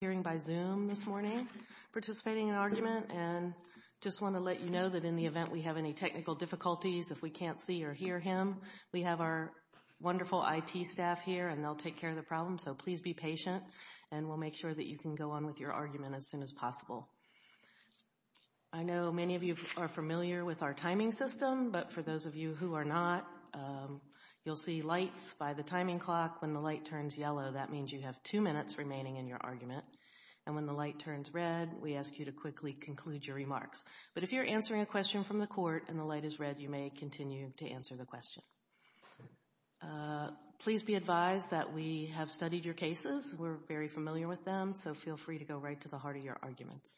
hearing by Zoom this morning, participating in argument and just want to let you know that in the event we have any technical difficulties, if we can't see or hear him, we have our wonderful IT staff here and they'll take care of the problem. So please be patient and we'll make sure that you can go on with your argument as soon as possible. I know many of you are familiar with our timing system, but for those of you who are not, you'll see lights by the timing clock. When the light turns yellow, that means you have two minutes remaining in your argument. And when the light turns red, we ask you to quickly conclude your remarks. But if you're answering a question from the court and the light is red, you may continue to answer the question. Please be advised that we have studied your cases. We're very familiar with them. So feel free to go right to the heart of your arguments.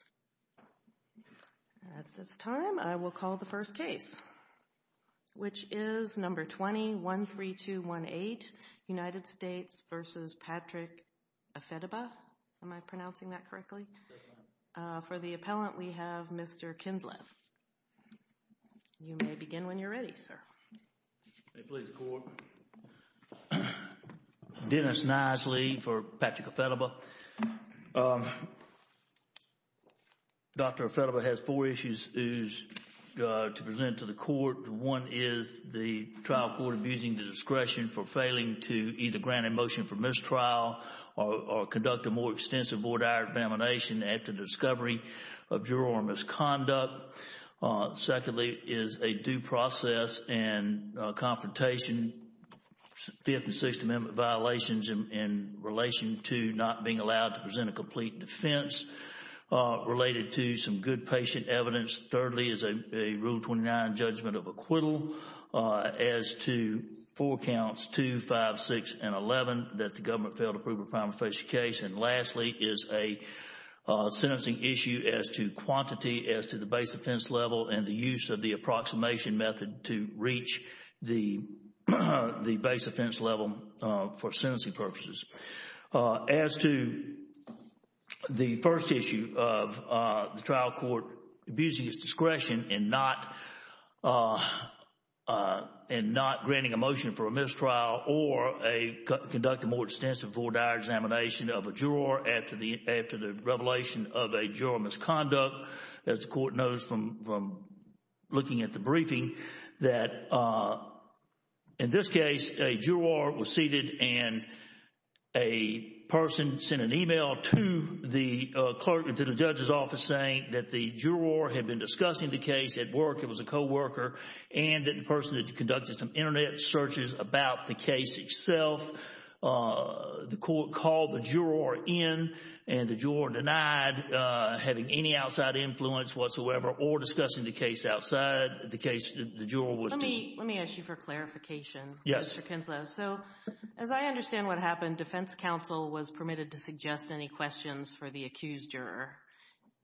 At this time, I will call the first case, which is number 20-13218, United States v. Patrick Ifediba. Am I pronouncing that correctly? For the appellant, we have Mr. Kinsleth. You may begin when you're ready, sir. Please, court. Dennis Nisely for Patrick Ifediba. Dr. Ifediba has four issues to present to the court. One is the trial court abusing the discretion for failing to either grant a motion for mistrial or conduct a more extensive board-hour examination after discovery of confrontation, Fifth and Sixth Amendment violations in relation to not being allowed to present a complete defense related to some good patient evidence. Thirdly, is a Rule 29 judgment of acquittal as to four counts, two, five, six, and eleven, that the government failed to prove a prima facie case. And lastly, is a sentencing issue as to quantity, as to the base offense level for sentencing purposes. As to the first issue of the trial court abusing its discretion in not granting a motion for a mistrial or conduct a more extensive board-hour examination of a juror after the revelation of a juror misconduct, as the court knows from looking at the briefing, that in this case, a juror was seated and a person sent an email to the clerk, to the judge's office saying that the juror had been discussing the case at work, it was a co-worker, and that the person had conducted some internet searches about the case itself. The court called the juror in and the juror denied having any outside influence whatsoever or discussing the case outside, the case, the juror was seated. Let me ask you for clarification. Yes. Mr. Kinslow. So, as I understand what happened, defense counsel was permitted to suggest any questions for the accused juror.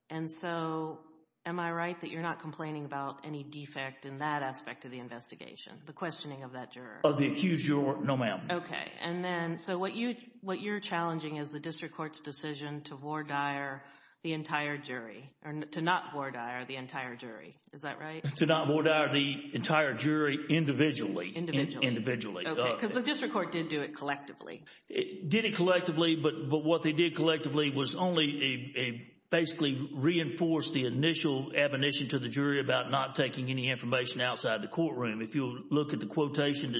And so, am I right that you're not complaining about any defect in that aspect of the investigation, the questioning of that juror? Of the accused juror, no ma'am. Okay. And then, so what you, what you're challenging is the district court's decision to vore dire the entire jury, or to not vore dire the entire jury. Is that right? To not vore dire the entire jury individually. Individually. Individually. Okay. Because the district court did do it collectively. Did it collectively, but what they did collectively was only a, basically reinforced the initial admonition to the jury about not taking any information outside the courtroom. If you look at the quotation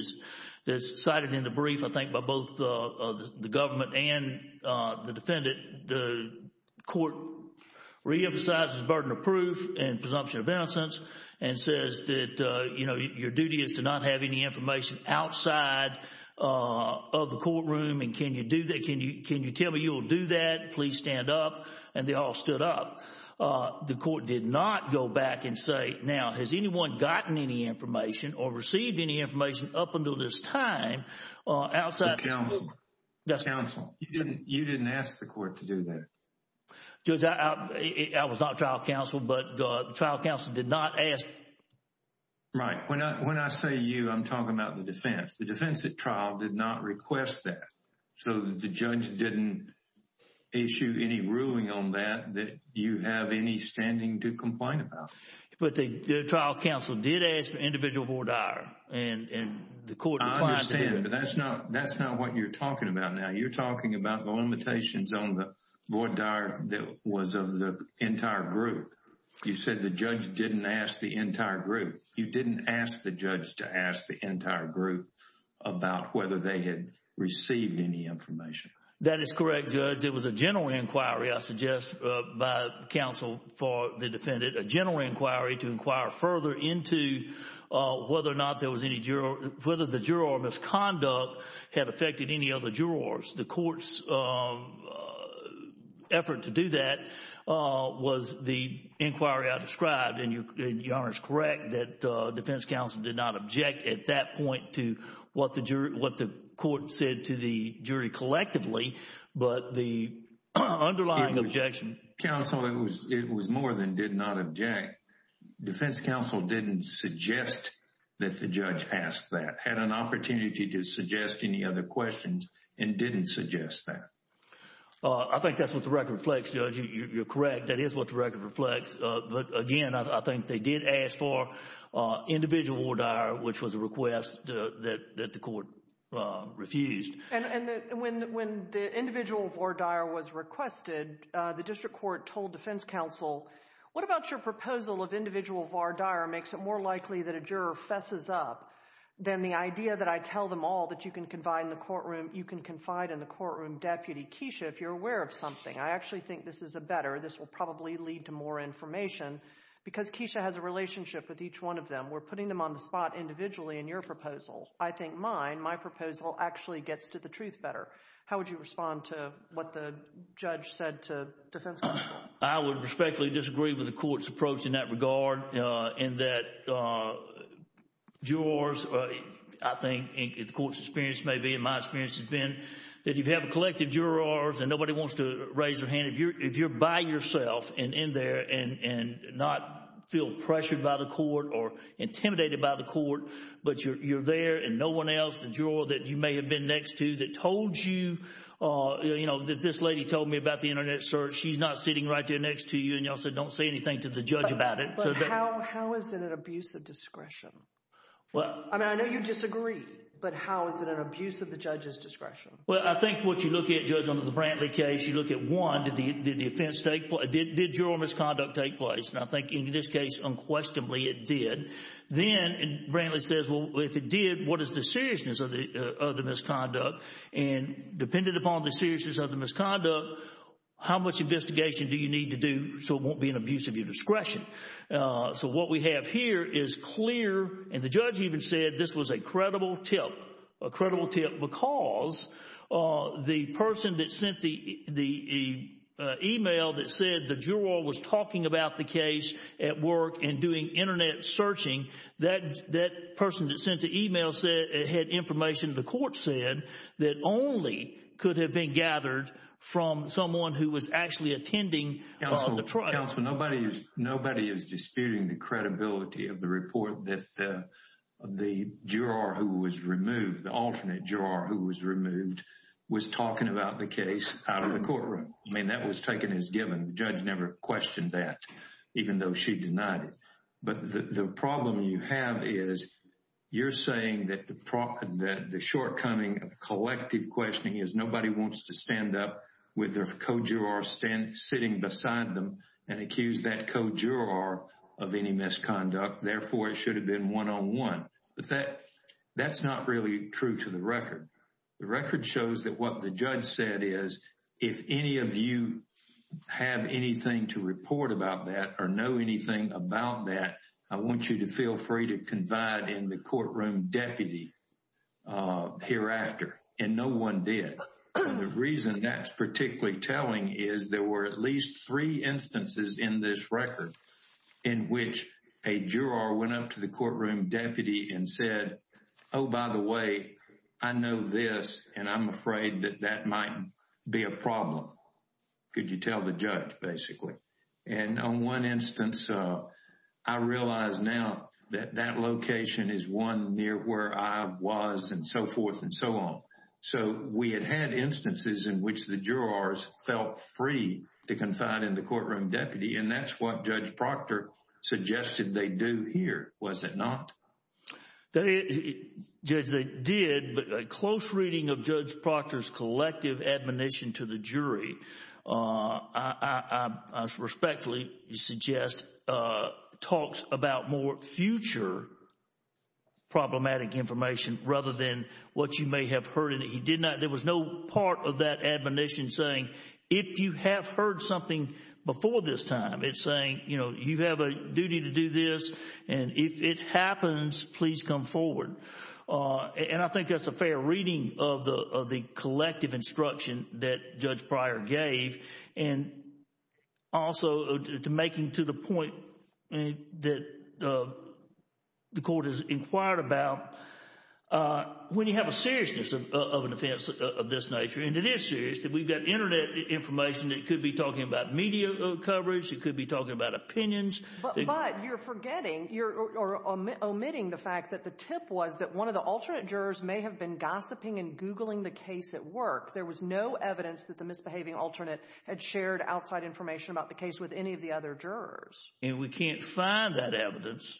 that's cited in the brief, I think by both the government and the defendant, the court reemphasizes burden of proof and presumption of innocence and says that, you know, your duty is to not have any information outside of the courtroom. And can you do that? Can you, can you tell me you will do that? Please stand up. And they all stood up. The court did not go back and say, now, has anyone gotten any information or received any information up until this time outside the courtroom? The counsel. Yes. The counsel. You didn't, you didn't ask the court to do that. Judge, I, I was not trial counsel, but the trial counsel did not ask. Right. When I, when I say you, I'm talking about the defense. The defense at trial did not request that. So the judge didn't issue any ruling on that, that you have any standing to complain about. But the trial counsel did ask for individual vore dire. And, and the court replied to him. But that's not, that's not what you're talking about. Now you're talking about the limitations on the vore dire that was of the entire group. You said the judge didn't ask the entire group. You didn't ask the judge to ask the entire group about whether they had received any information. That is correct, Judge. It was a general inquiry, I suggest by counsel for the defendant, a general inquiry to inquire further into whether or not there was any juror, whether the juror misconduct had affected any other jurors. The court's effort to do that was the inquiry I described. And you're, your Honor is correct that defense counsel did not object at that point to what the jury, what the court said to the jury collectively. But the underlying objection. Counsel, it was, it was more than did not object. Defense counsel didn't suggest that the judge asked that. Had an opportunity to suggest any other questions and didn't suggest that. I think that's what the record reflects, Judge. You're correct. That is what the record reflects. But again, I think they did ask for individual vore dire, which was a request that the court refused. And, and when, when the individual vore dire was requested, the district court told defense counsel, what about your proposal of individual vore dire makes it more likely that a juror fesses up than the idea that I tell them all that you can confide in the courtroom, you can confide in the courtroom. Deputy Keisha, if you're aware of something, I actually think this is a better, this will probably lead to more information because Keisha has a relationship with each one of them. We're putting them on the spot individually in your proposal. I think mine, my proposal actually gets to the truth better. How would you respond to what the judge said to defense counsel? I would respectfully disagree with the court's approach in that regard, in that jurors, I think, and the court's experience may be, and my experience has been, that you have a collective jurors and nobody wants to raise their hand. If you're, if you're by yourself and in there and, and not feel pressured by the court or intimidated by the court, but you're, you're there and no one else, the juror that you may have been next to that told you, you know, that this lady told me about the internet search, she's not sitting right there next to you and y'all said, don't say anything to the judge about it. But how, how is it an abuse of discretion? Well, I mean, I know you disagree, but how is it an abuse of the judge's discretion? Well, I think what you look at, Judge, under the Brantley case, you look at one, did the, did the offense take place, did, did juror misconduct take place? And I think in this case unquestionably it did. Then Brantley says, well, if it did, what is the seriousness of the, of the misconduct? And dependent upon the seriousness of the misconduct, how much investigation do you need to do so it won't be an abuse of your discretion? So what we have here is clear, and the judge even said this was a credible tip, a credible tip because the person that sent the, the email that said the juror was talking about the case at work and doing internet searching, that, that person that sent the email said it had information the court said that only could have been gathered from someone who was actually attending the trial. Counsel, counsel, nobody is, nobody is disputing the credibility of the report that the, the juror who was removed, the alternate juror who was removed was talking about the case out of the courtroom. I mean, that was taken as given. The judge never questioned that even though she denied it. But the, the problem you have is you're saying that the, that the shortcoming of collective questioning is nobody wants to stand up with their co-juror sitting beside them and accuse that co-juror of any misconduct. Therefore, it should have been one-on-one. But that, that's not really true to the record. The record shows that what the judge said is, if any of you have anything to report about that or know anything about that, I want you to feel free to confide in the courtroom deputy hereafter. And no one did. The reason that's particularly telling is there were at least three instances in this record in which a juror went up to the courtroom deputy and said, oh, by the way, I know this and I'm afraid that that might be a problem. Could you tell the judge basically? And on one instance, I realize now that that location is one near where I was and so forth and so on. So we had had instances in which the jurors felt free to confide in the courtroom deputy and that's what Judge Proctor suggested they do here, was it not? Judge, they did, but a close reading of Judge Proctor's collective admonition to the jury, I respectfully suggest, talks about more future problematic information rather than what you may have heard. He did not, there was no part of that admonition saying, if you have heard something before this time, it's saying, you know, you have a duty to do this and if it happens, please come forward. And I think that's a fair reading of the collective instruction that Judge Pryor gave and also to make him to the point that the court has inquired about when you have a seriousness of an offense of this nature, and it is serious, that we've got internet information that could be talking about media coverage, it could be talking about opinions. But you're forgetting, you're omitting the fact that the tip was that one of the alternate had no evidence that the misbehaving alternate had shared outside information about the case with any of the other jurors. And we can't find that evidence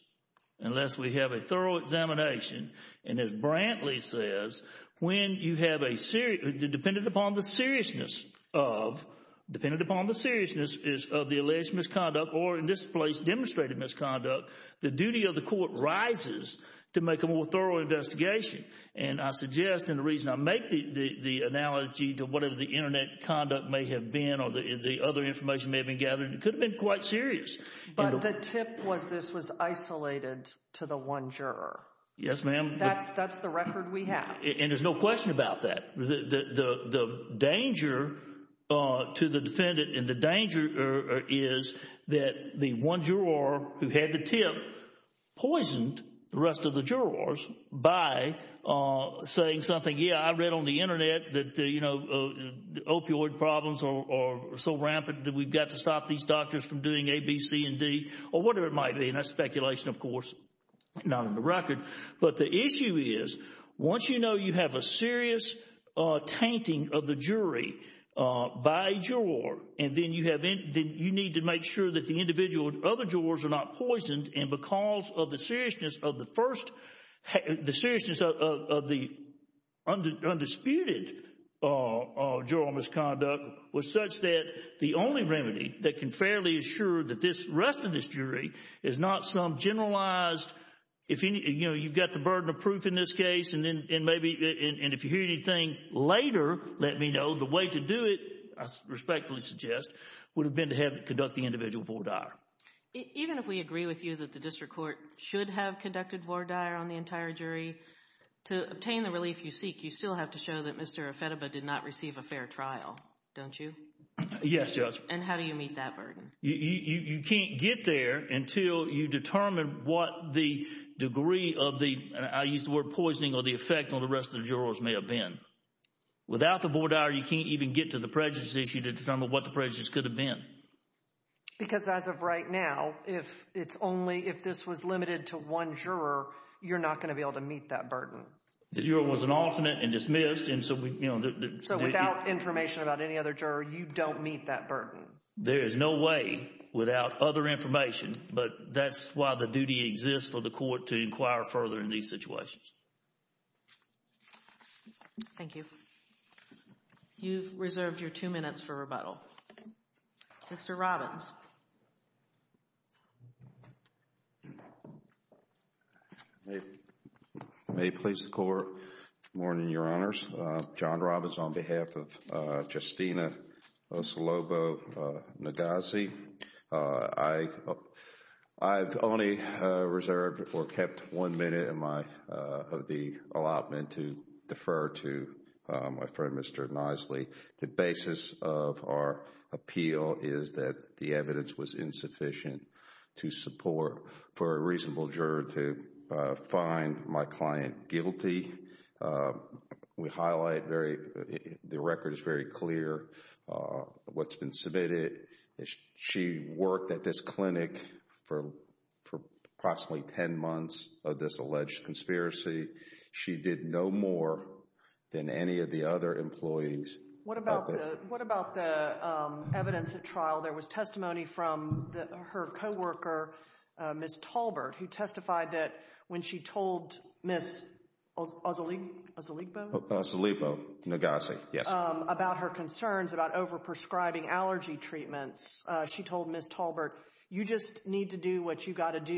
unless we have a thorough examination and as Brantley says, when you have a serious, dependent upon the seriousness of, dependent upon the seriousness is of the alleged misconduct or in this place demonstrated misconduct, the duty of the court rises to make a more thorough investigation. And I suggest and the reason I make the analogy to whatever the internet conduct may have been or the other information may have been gathered, it could have been quite serious. But the tip was this was isolated to the one juror. Yes, ma'am. That's the record we have. And there's no question about that. The danger to the defendant and the danger is that the one juror who had the tip poisoned the rest of the jurors by saying something, yeah, I know the opioid problems are so rampant that we've got to stop these doctors from doing A, B, C and D or whatever it might be. And that's speculation, of course, not on the record. But the issue is once you know you have a serious tainting of the jury by a juror and then you have, you need to make sure that the individual and other jurors are not poisoned and because of the seriousness of the first, the seriousness of the undisputed misconduct or juror misconduct was such that the only remedy that can fairly assure that the rest of this jury is not some generalized, you know, you've got the burden of proof in this case and if you hear anything later, let me know, the way to do it, I respectfully suggest, would have been to have them conduct the individual vore dire. Even if we agree with you that the district court should have conducted vore dire on the entire jury, to obtain the relief you seek, you still have to show that Mr. Effediba did not receive a fair trial, don't you? Yes, Judge. And how do you meet that burden? You can't get there until you determine what the degree of the, I use the word poisoning, or the effect on the rest of the jurors may have been. Without the vore dire, you can't even get to the prejudice issue to determine what the prejudice could have been. Because as of right now, if it's only, if this was limited to one juror, you're not going to be able to meet that burden. The juror was an alternate and dismissed and so we, you know, the... So without information about any other juror, you don't meet that burden? There is no way without other information, but that's why the duty exists for the court to inquire further in these situations. Thank you. You've reserved your two minutes for rebuttal. Mr. Robbins. May it please the court, good morning, your honors. John Robbins on behalf of Justina Osolobo-Nagassi. I've only reserved or kept one minute of the allotment to defer to my friend, Mr. Knisely. The basis of our appeal is that the evidence was insufficient to support for a reasonable juror to find my client guilty. We highlight very, the record is very clear, what's been submitted. She worked at this clinic for approximately 10 months of this alleged conspiracy. She did no more than any of the other employees. What about the evidence at trial? There was testimony from her co-worker, Ms. Talbert, who testified that when she told Ms. Osolobo-Nagassi about her concerns about over-prescribing allergy treatments, she told Ms. Talbert, you just need to do what you got to do.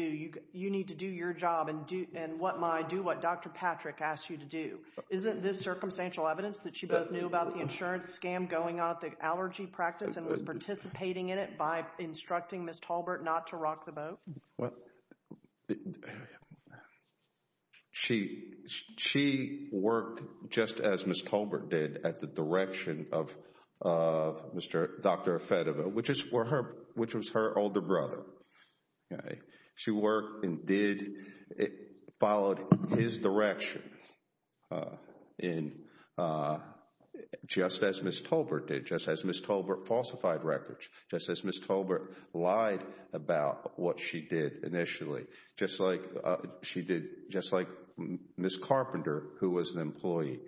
You need to do your job and do what Dr. Patrick asked you to do. Isn't this circumstantial evidence that she both knew about the insurance scam going on at the allergy practice and was participating in it by instructing Ms. Talbert not to rock the boat? She worked just as Ms. Talbert did at the direction of Dr. Afedova, which was her older brother. She worked and followed his direction, just as Ms. Talbert did, just as Ms. Talbert falsified records, just as Ms. Talbert lied about what she did initially, just like Ms. Carpenter, who was an employee.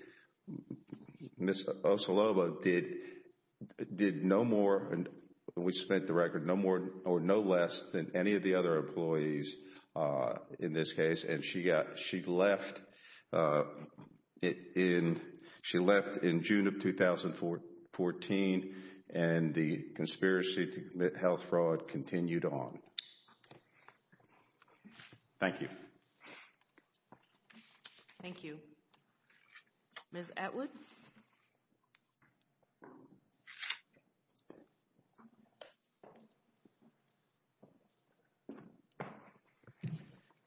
Ms. Osolobo-Nagassi did no more, and we spent the record, no more or no less than any of the other employees in this case, and she left in June of 2014, and the conspiracy to commit health fraud continued on. Thank you. Thank you. Ms. Atwood?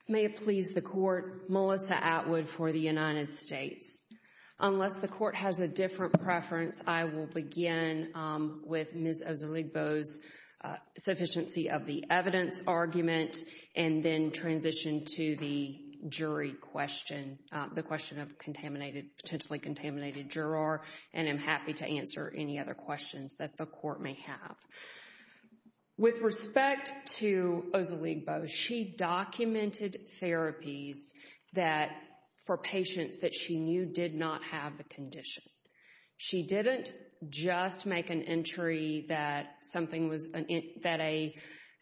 May it please the court, Melissa Atwood for the United States. Unless the court has a different preference, I will begin with Ms. Osolobo's sufficiency of the evidence argument, and then transition to the jury question, the question of potentially contaminated juror, and I'm happy to answer any other questions that the court may have. With respect to Osolobo, she documented therapies that, for patients that she knew did not have the condition. She didn't just make an entry that something was, that an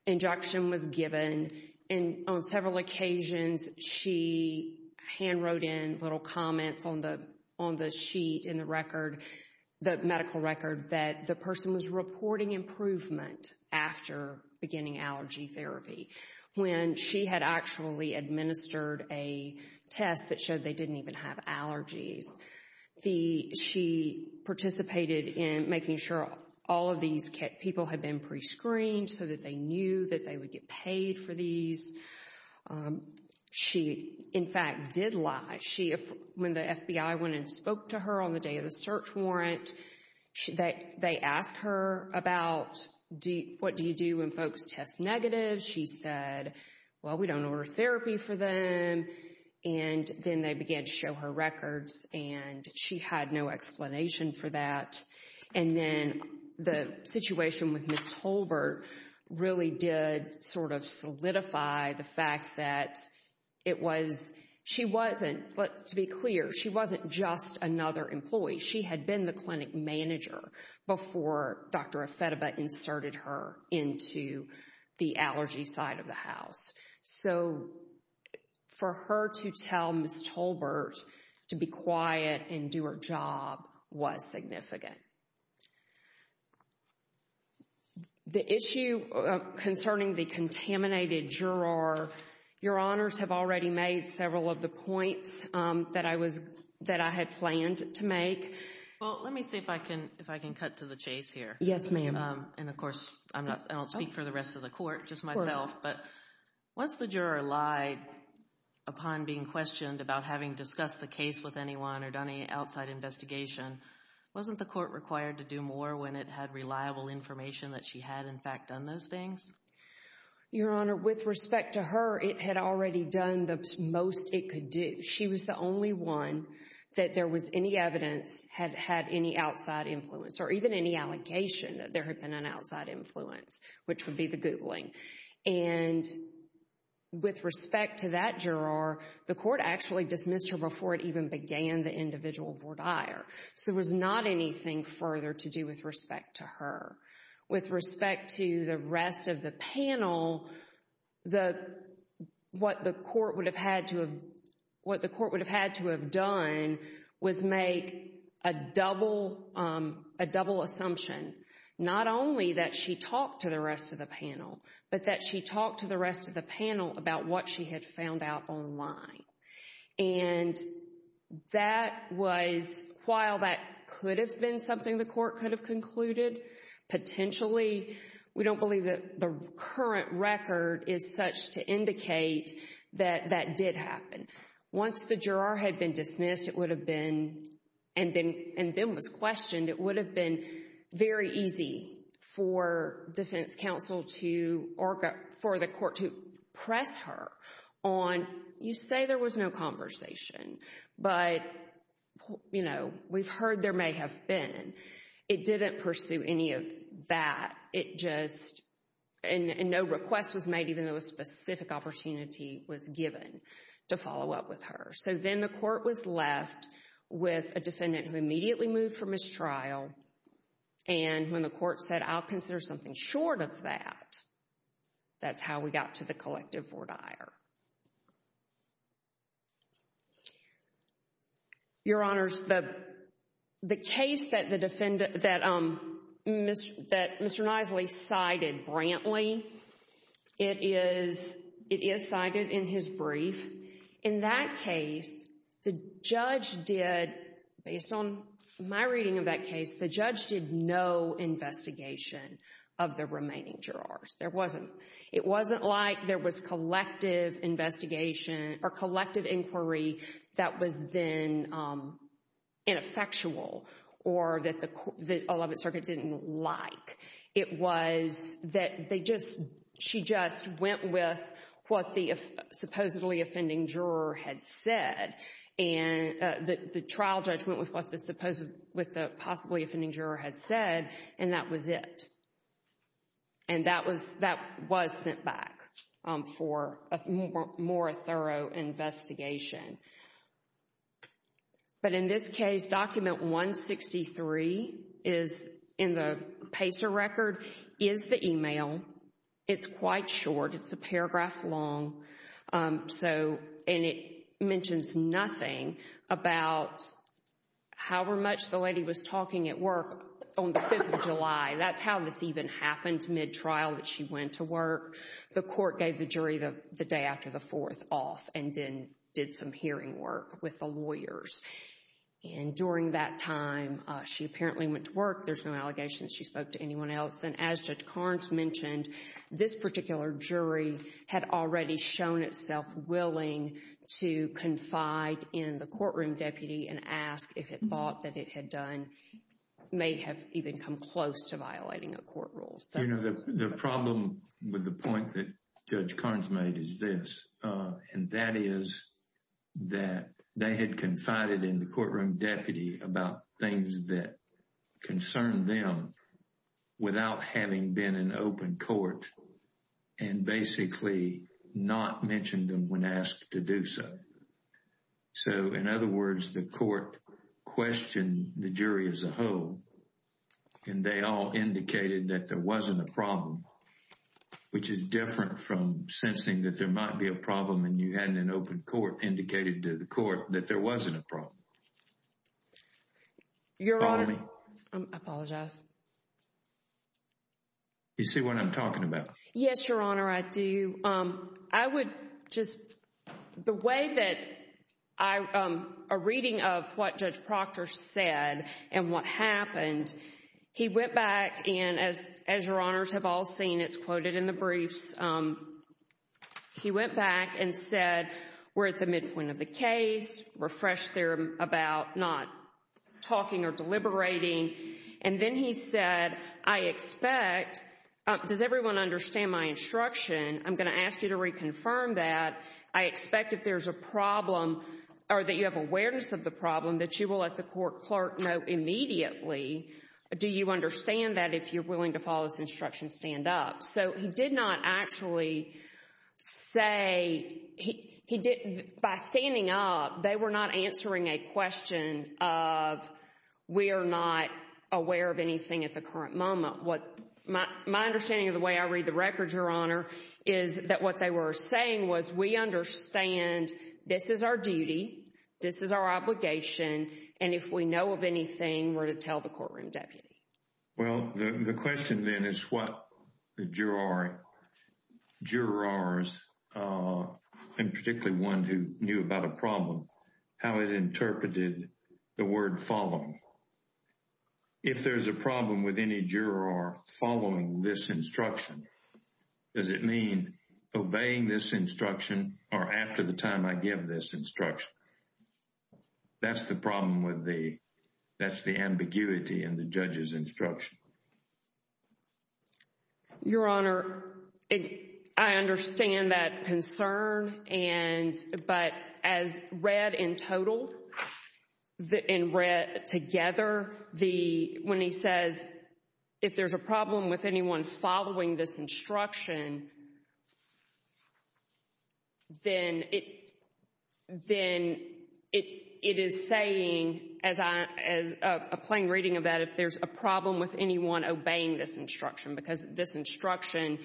injection was given, and on several occasions she hand wrote in little comments on the sheet in the record, the medical record, that the person was reporting improvement after beginning allergy therapy, when she had actually administered a test that showed they didn't even have allergies. The, she participated in making sure all of these people had been pre-screened so that they knew that they would get paid for these. She in fact did lie. She, when the FBI went and spoke to her on the day of the search warrant, they asked her about, what do you do when folks test negative, she said, well we don't order therapy for them, and then they began to show her records, and she had no explanation for that. And then the situation with Ms. Holbert really did sort of solidify the fact that it was, she wasn't, let's be clear, she wasn't just another employee. She had been the clinic manager before Dr. Efetiba inserted her into the allergy side of the house. So, for her to tell Ms. Holbert to be quiet and do her job was significant. The issue concerning the contaminated juror, your honors have already made several of the points that I was, that I had planned to make. Well, let me see if I can, if I can cut to the chase here. Yes, ma'am. And of course, I'm not, I don't speak for the rest of the court, just myself, but once the juror lied upon being questioned about having discussed the case with anyone or done any outside investigation, wasn't the court required to do more when it had reliable information that she had in fact done those things? Your honor, with respect to her, it had already done the most it could do. She was the only one that there was any evidence had had any outside influence or even any allegation that there had been an outside influence, which would be the Googling. And with respect to that juror, the court actually dismissed her before it even began the individual voir dire. So, there was not anything further to do with respect to her. With respect to the rest of the panel, the, what the court would have had to have, what not only that she talked to the rest of the panel, but that she talked to the rest of the panel about what she had found out online. And that was, while that could have been something the court could have concluded, potentially, we don't believe that the current record is such to indicate that that did happen. Once the juror had been dismissed, it would have been, and then was questioned, it would have been very easy for defense counsel to, or for the court to press her on, you say there was no conversation, but, you know, we've heard there may have been. It didn't pursue any of that. It just, and no request was made even though a specific opportunity was given to follow up with her. So, then the court was left with a defendant who immediately moved for mistrial, and when the court said, I'll consider something short of that, that's how we got to the collective voir dire. Your Honors, the case that the defendant, that Mr. Knisley cited, Brantley, it is cited in his brief. In that case, the judge did, based on my reading of that case, the judge did no investigation of the remaining jurors. There wasn't. It wasn't like there was collective investigation or collective inquiry that was then ineffectual or that the Eleventh Circuit didn't like. It was that they just, she just went with what the supposedly offending juror had said, and the trial judge went with what the possibly offending juror had said, and that was it. And that was sent back for a more thorough investigation. But in this case, Document 163 is, in the PACER record, is the email. It's quite short. It's a paragraph long, so, and it mentions nothing about how much the lady was talking at work on the 5th of July. That's how this even happened mid-trial that she went to work. The court gave the jury the day after the 4th off and then did some hearing work with the lawyers. And during that time, she apparently went to work. There's no allegations she spoke to anyone else. And as Judge Carnes mentioned, this particular jury had already shown itself willing to confide in the courtroom deputy and ask if it thought that it had done, may have even come close to violating a court rule. The problem with the point that Judge Carnes made is this, and that is that they had confided in the courtroom deputy about things that concerned them without having been in open court and basically not mentioned them when asked to do so. So in other words, the court questioned the jury as a whole, and they all indicated that there wasn't a problem, which is different from sensing that there might be a problem and you hadn't in open court indicated to the court that there wasn't a problem. Your Honor, I apologize. You see what I'm talking about? Yes, Your Honor, I do. I would just, the way that I, a reading of what Judge Proctor said and what happened, he went back and, as Your Honors have all seen, it's quoted in the briefs, he went back and said, we're at the midpoint of the case, refresh there about not talking or deliberating. And then he said, I expect, does everyone understand my instruction? I'm going to ask you to reconfirm that. I expect if there's a problem or that you have awareness of the problem that you will let the court clerk know immediately. Do you understand that if you're willing to follow this instruction, stand up? So he did not actually say, he didn't, by standing up, they were not answering a question of we are not aware of anything at the current moment. My understanding of the way I read the records, Your Honor, is that what they were saying was we understand this is our duty, this is our obligation, and if we know of anything, we're to tell the courtroom deputy. Well, the question then is what the jurors, and particularly one who knew about a problem, how it interpreted the word following. If there's a problem with any juror following this instruction, does it mean obeying this instruction or after the time I give this instruction? That's the problem with the, that's the ambiguity in the judge's instruction. Your Honor, I understand that concern and, but as read in total, in read together, the, when he says, if there's a problem with anyone following this instruction, then it, then it is saying, as I, as a plain reading of that, if there's a problem with anyone obeying this instruction, because this instruction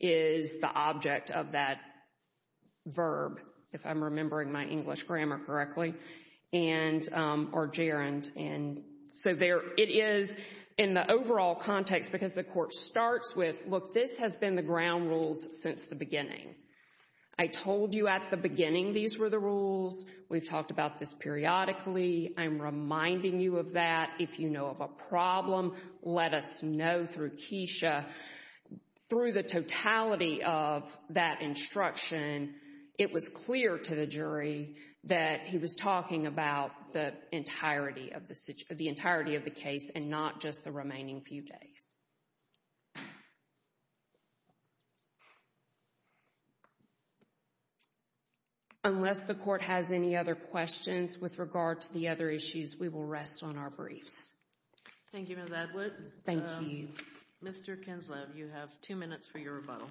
is the object of that verb, if I'm remembering my English grammar correctly, and, or gerund, and so there, it is in the overall context because the court starts with, look, this has been the ground rules since the beginning. I told you at the beginning these were the rules. We've talked about this periodically. I'm reminding you of that. If you know of a problem, let us know through Keisha. Through the totality of that instruction, it was clear to the jury that he was talking about the entirety of the, the entirety of the case and not just the remaining few days. Unless the court has any other questions with regard to the other issues, we will rest on our briefs. Thank you, Ms. Adwood. Thank you. Thank you. Mr. Kinslev, you have two minutes for your rebuttal.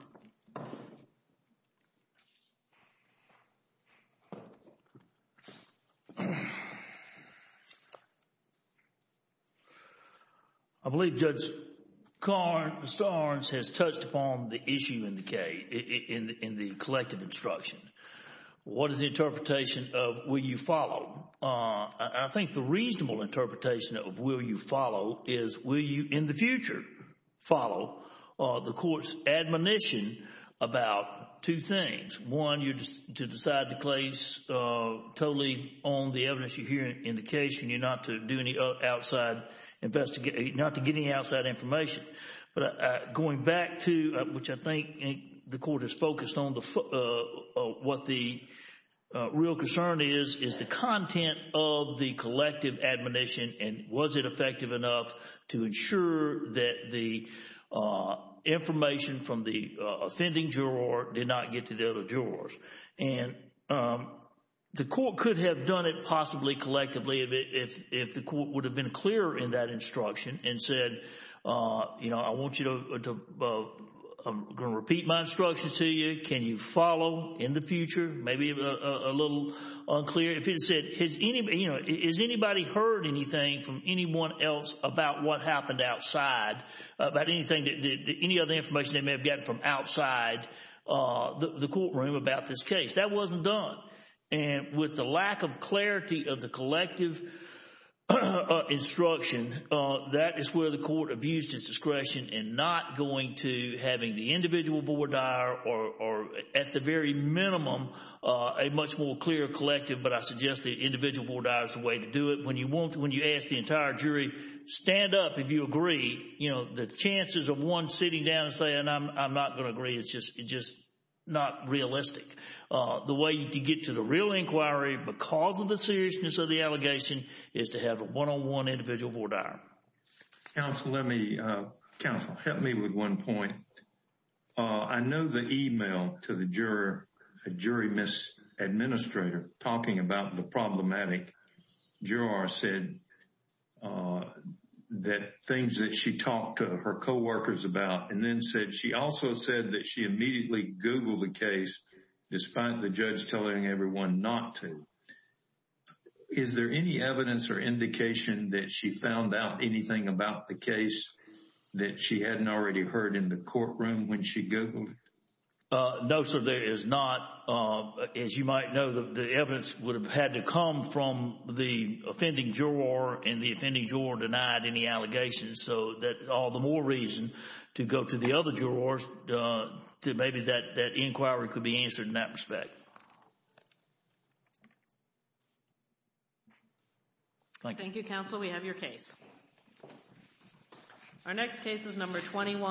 I believe Judge Starnes has touched upon the issue in the case, in the collective instruction. What is the interpretation of will you follow? I think the reasonable interpretation of will you follow is will you, in the future, follow the court's admonition about two things. One, you're to decide the case totally on the evidence you hear in the case and you're not to do any outside, not to get any outside information. Going back to, which I think the court is focused on, what the real concern is, is the content of the collective admonition and was it effective enough to ensure that the information from the offending juror did not get to the other jurors. The court could have done it possibly collectively if the court would have been clearer in that instruction and said, you know, I want you to, I'm going to repeat my instruction to you. Can you follow in the future? Maybe a little unclear. If it said, you know, has anybody heard anything from anyone else about what happened outside, about anything, any other information they may have gotten from outside the courtroom about this case? That wasn't done. And with the lack of clarity of the collective instruction, that is where the court abused its discretion in not going to having the individual voir dire or at the very minimum a much more clear collective. But I suggest the individual voir dire is the way to do it. When you want, when you ask the entire jury, stand up if you agree, you know, the chances of one sitting down and saying, I'm not going to agree, it's just not realistic. The way to get to the real inquiry because of the seriousness of the allegation is to have a one-on-one individual voir dire. Counsel, let me, counsel, help me with one point. I know the email to the juror, a jury misadministrator talking about the problematic juror said that things that she talked to her co-workers about and then said she also said that she immediately Googled the case, despite the judge telling everyone not to. Is there any evidence or indication that she found out anything about the case that she hadn't already heard in the courtroom when she Googled it? No, sir, there is not. As you might know, the evidence would have had to come from the offending juror and the offending juror denied any allegations. So that all the more reason to go to the other jurors to maybe that inquiry could be answered in that respect. Thank you, counsel. We have your case. Our next case is number 21.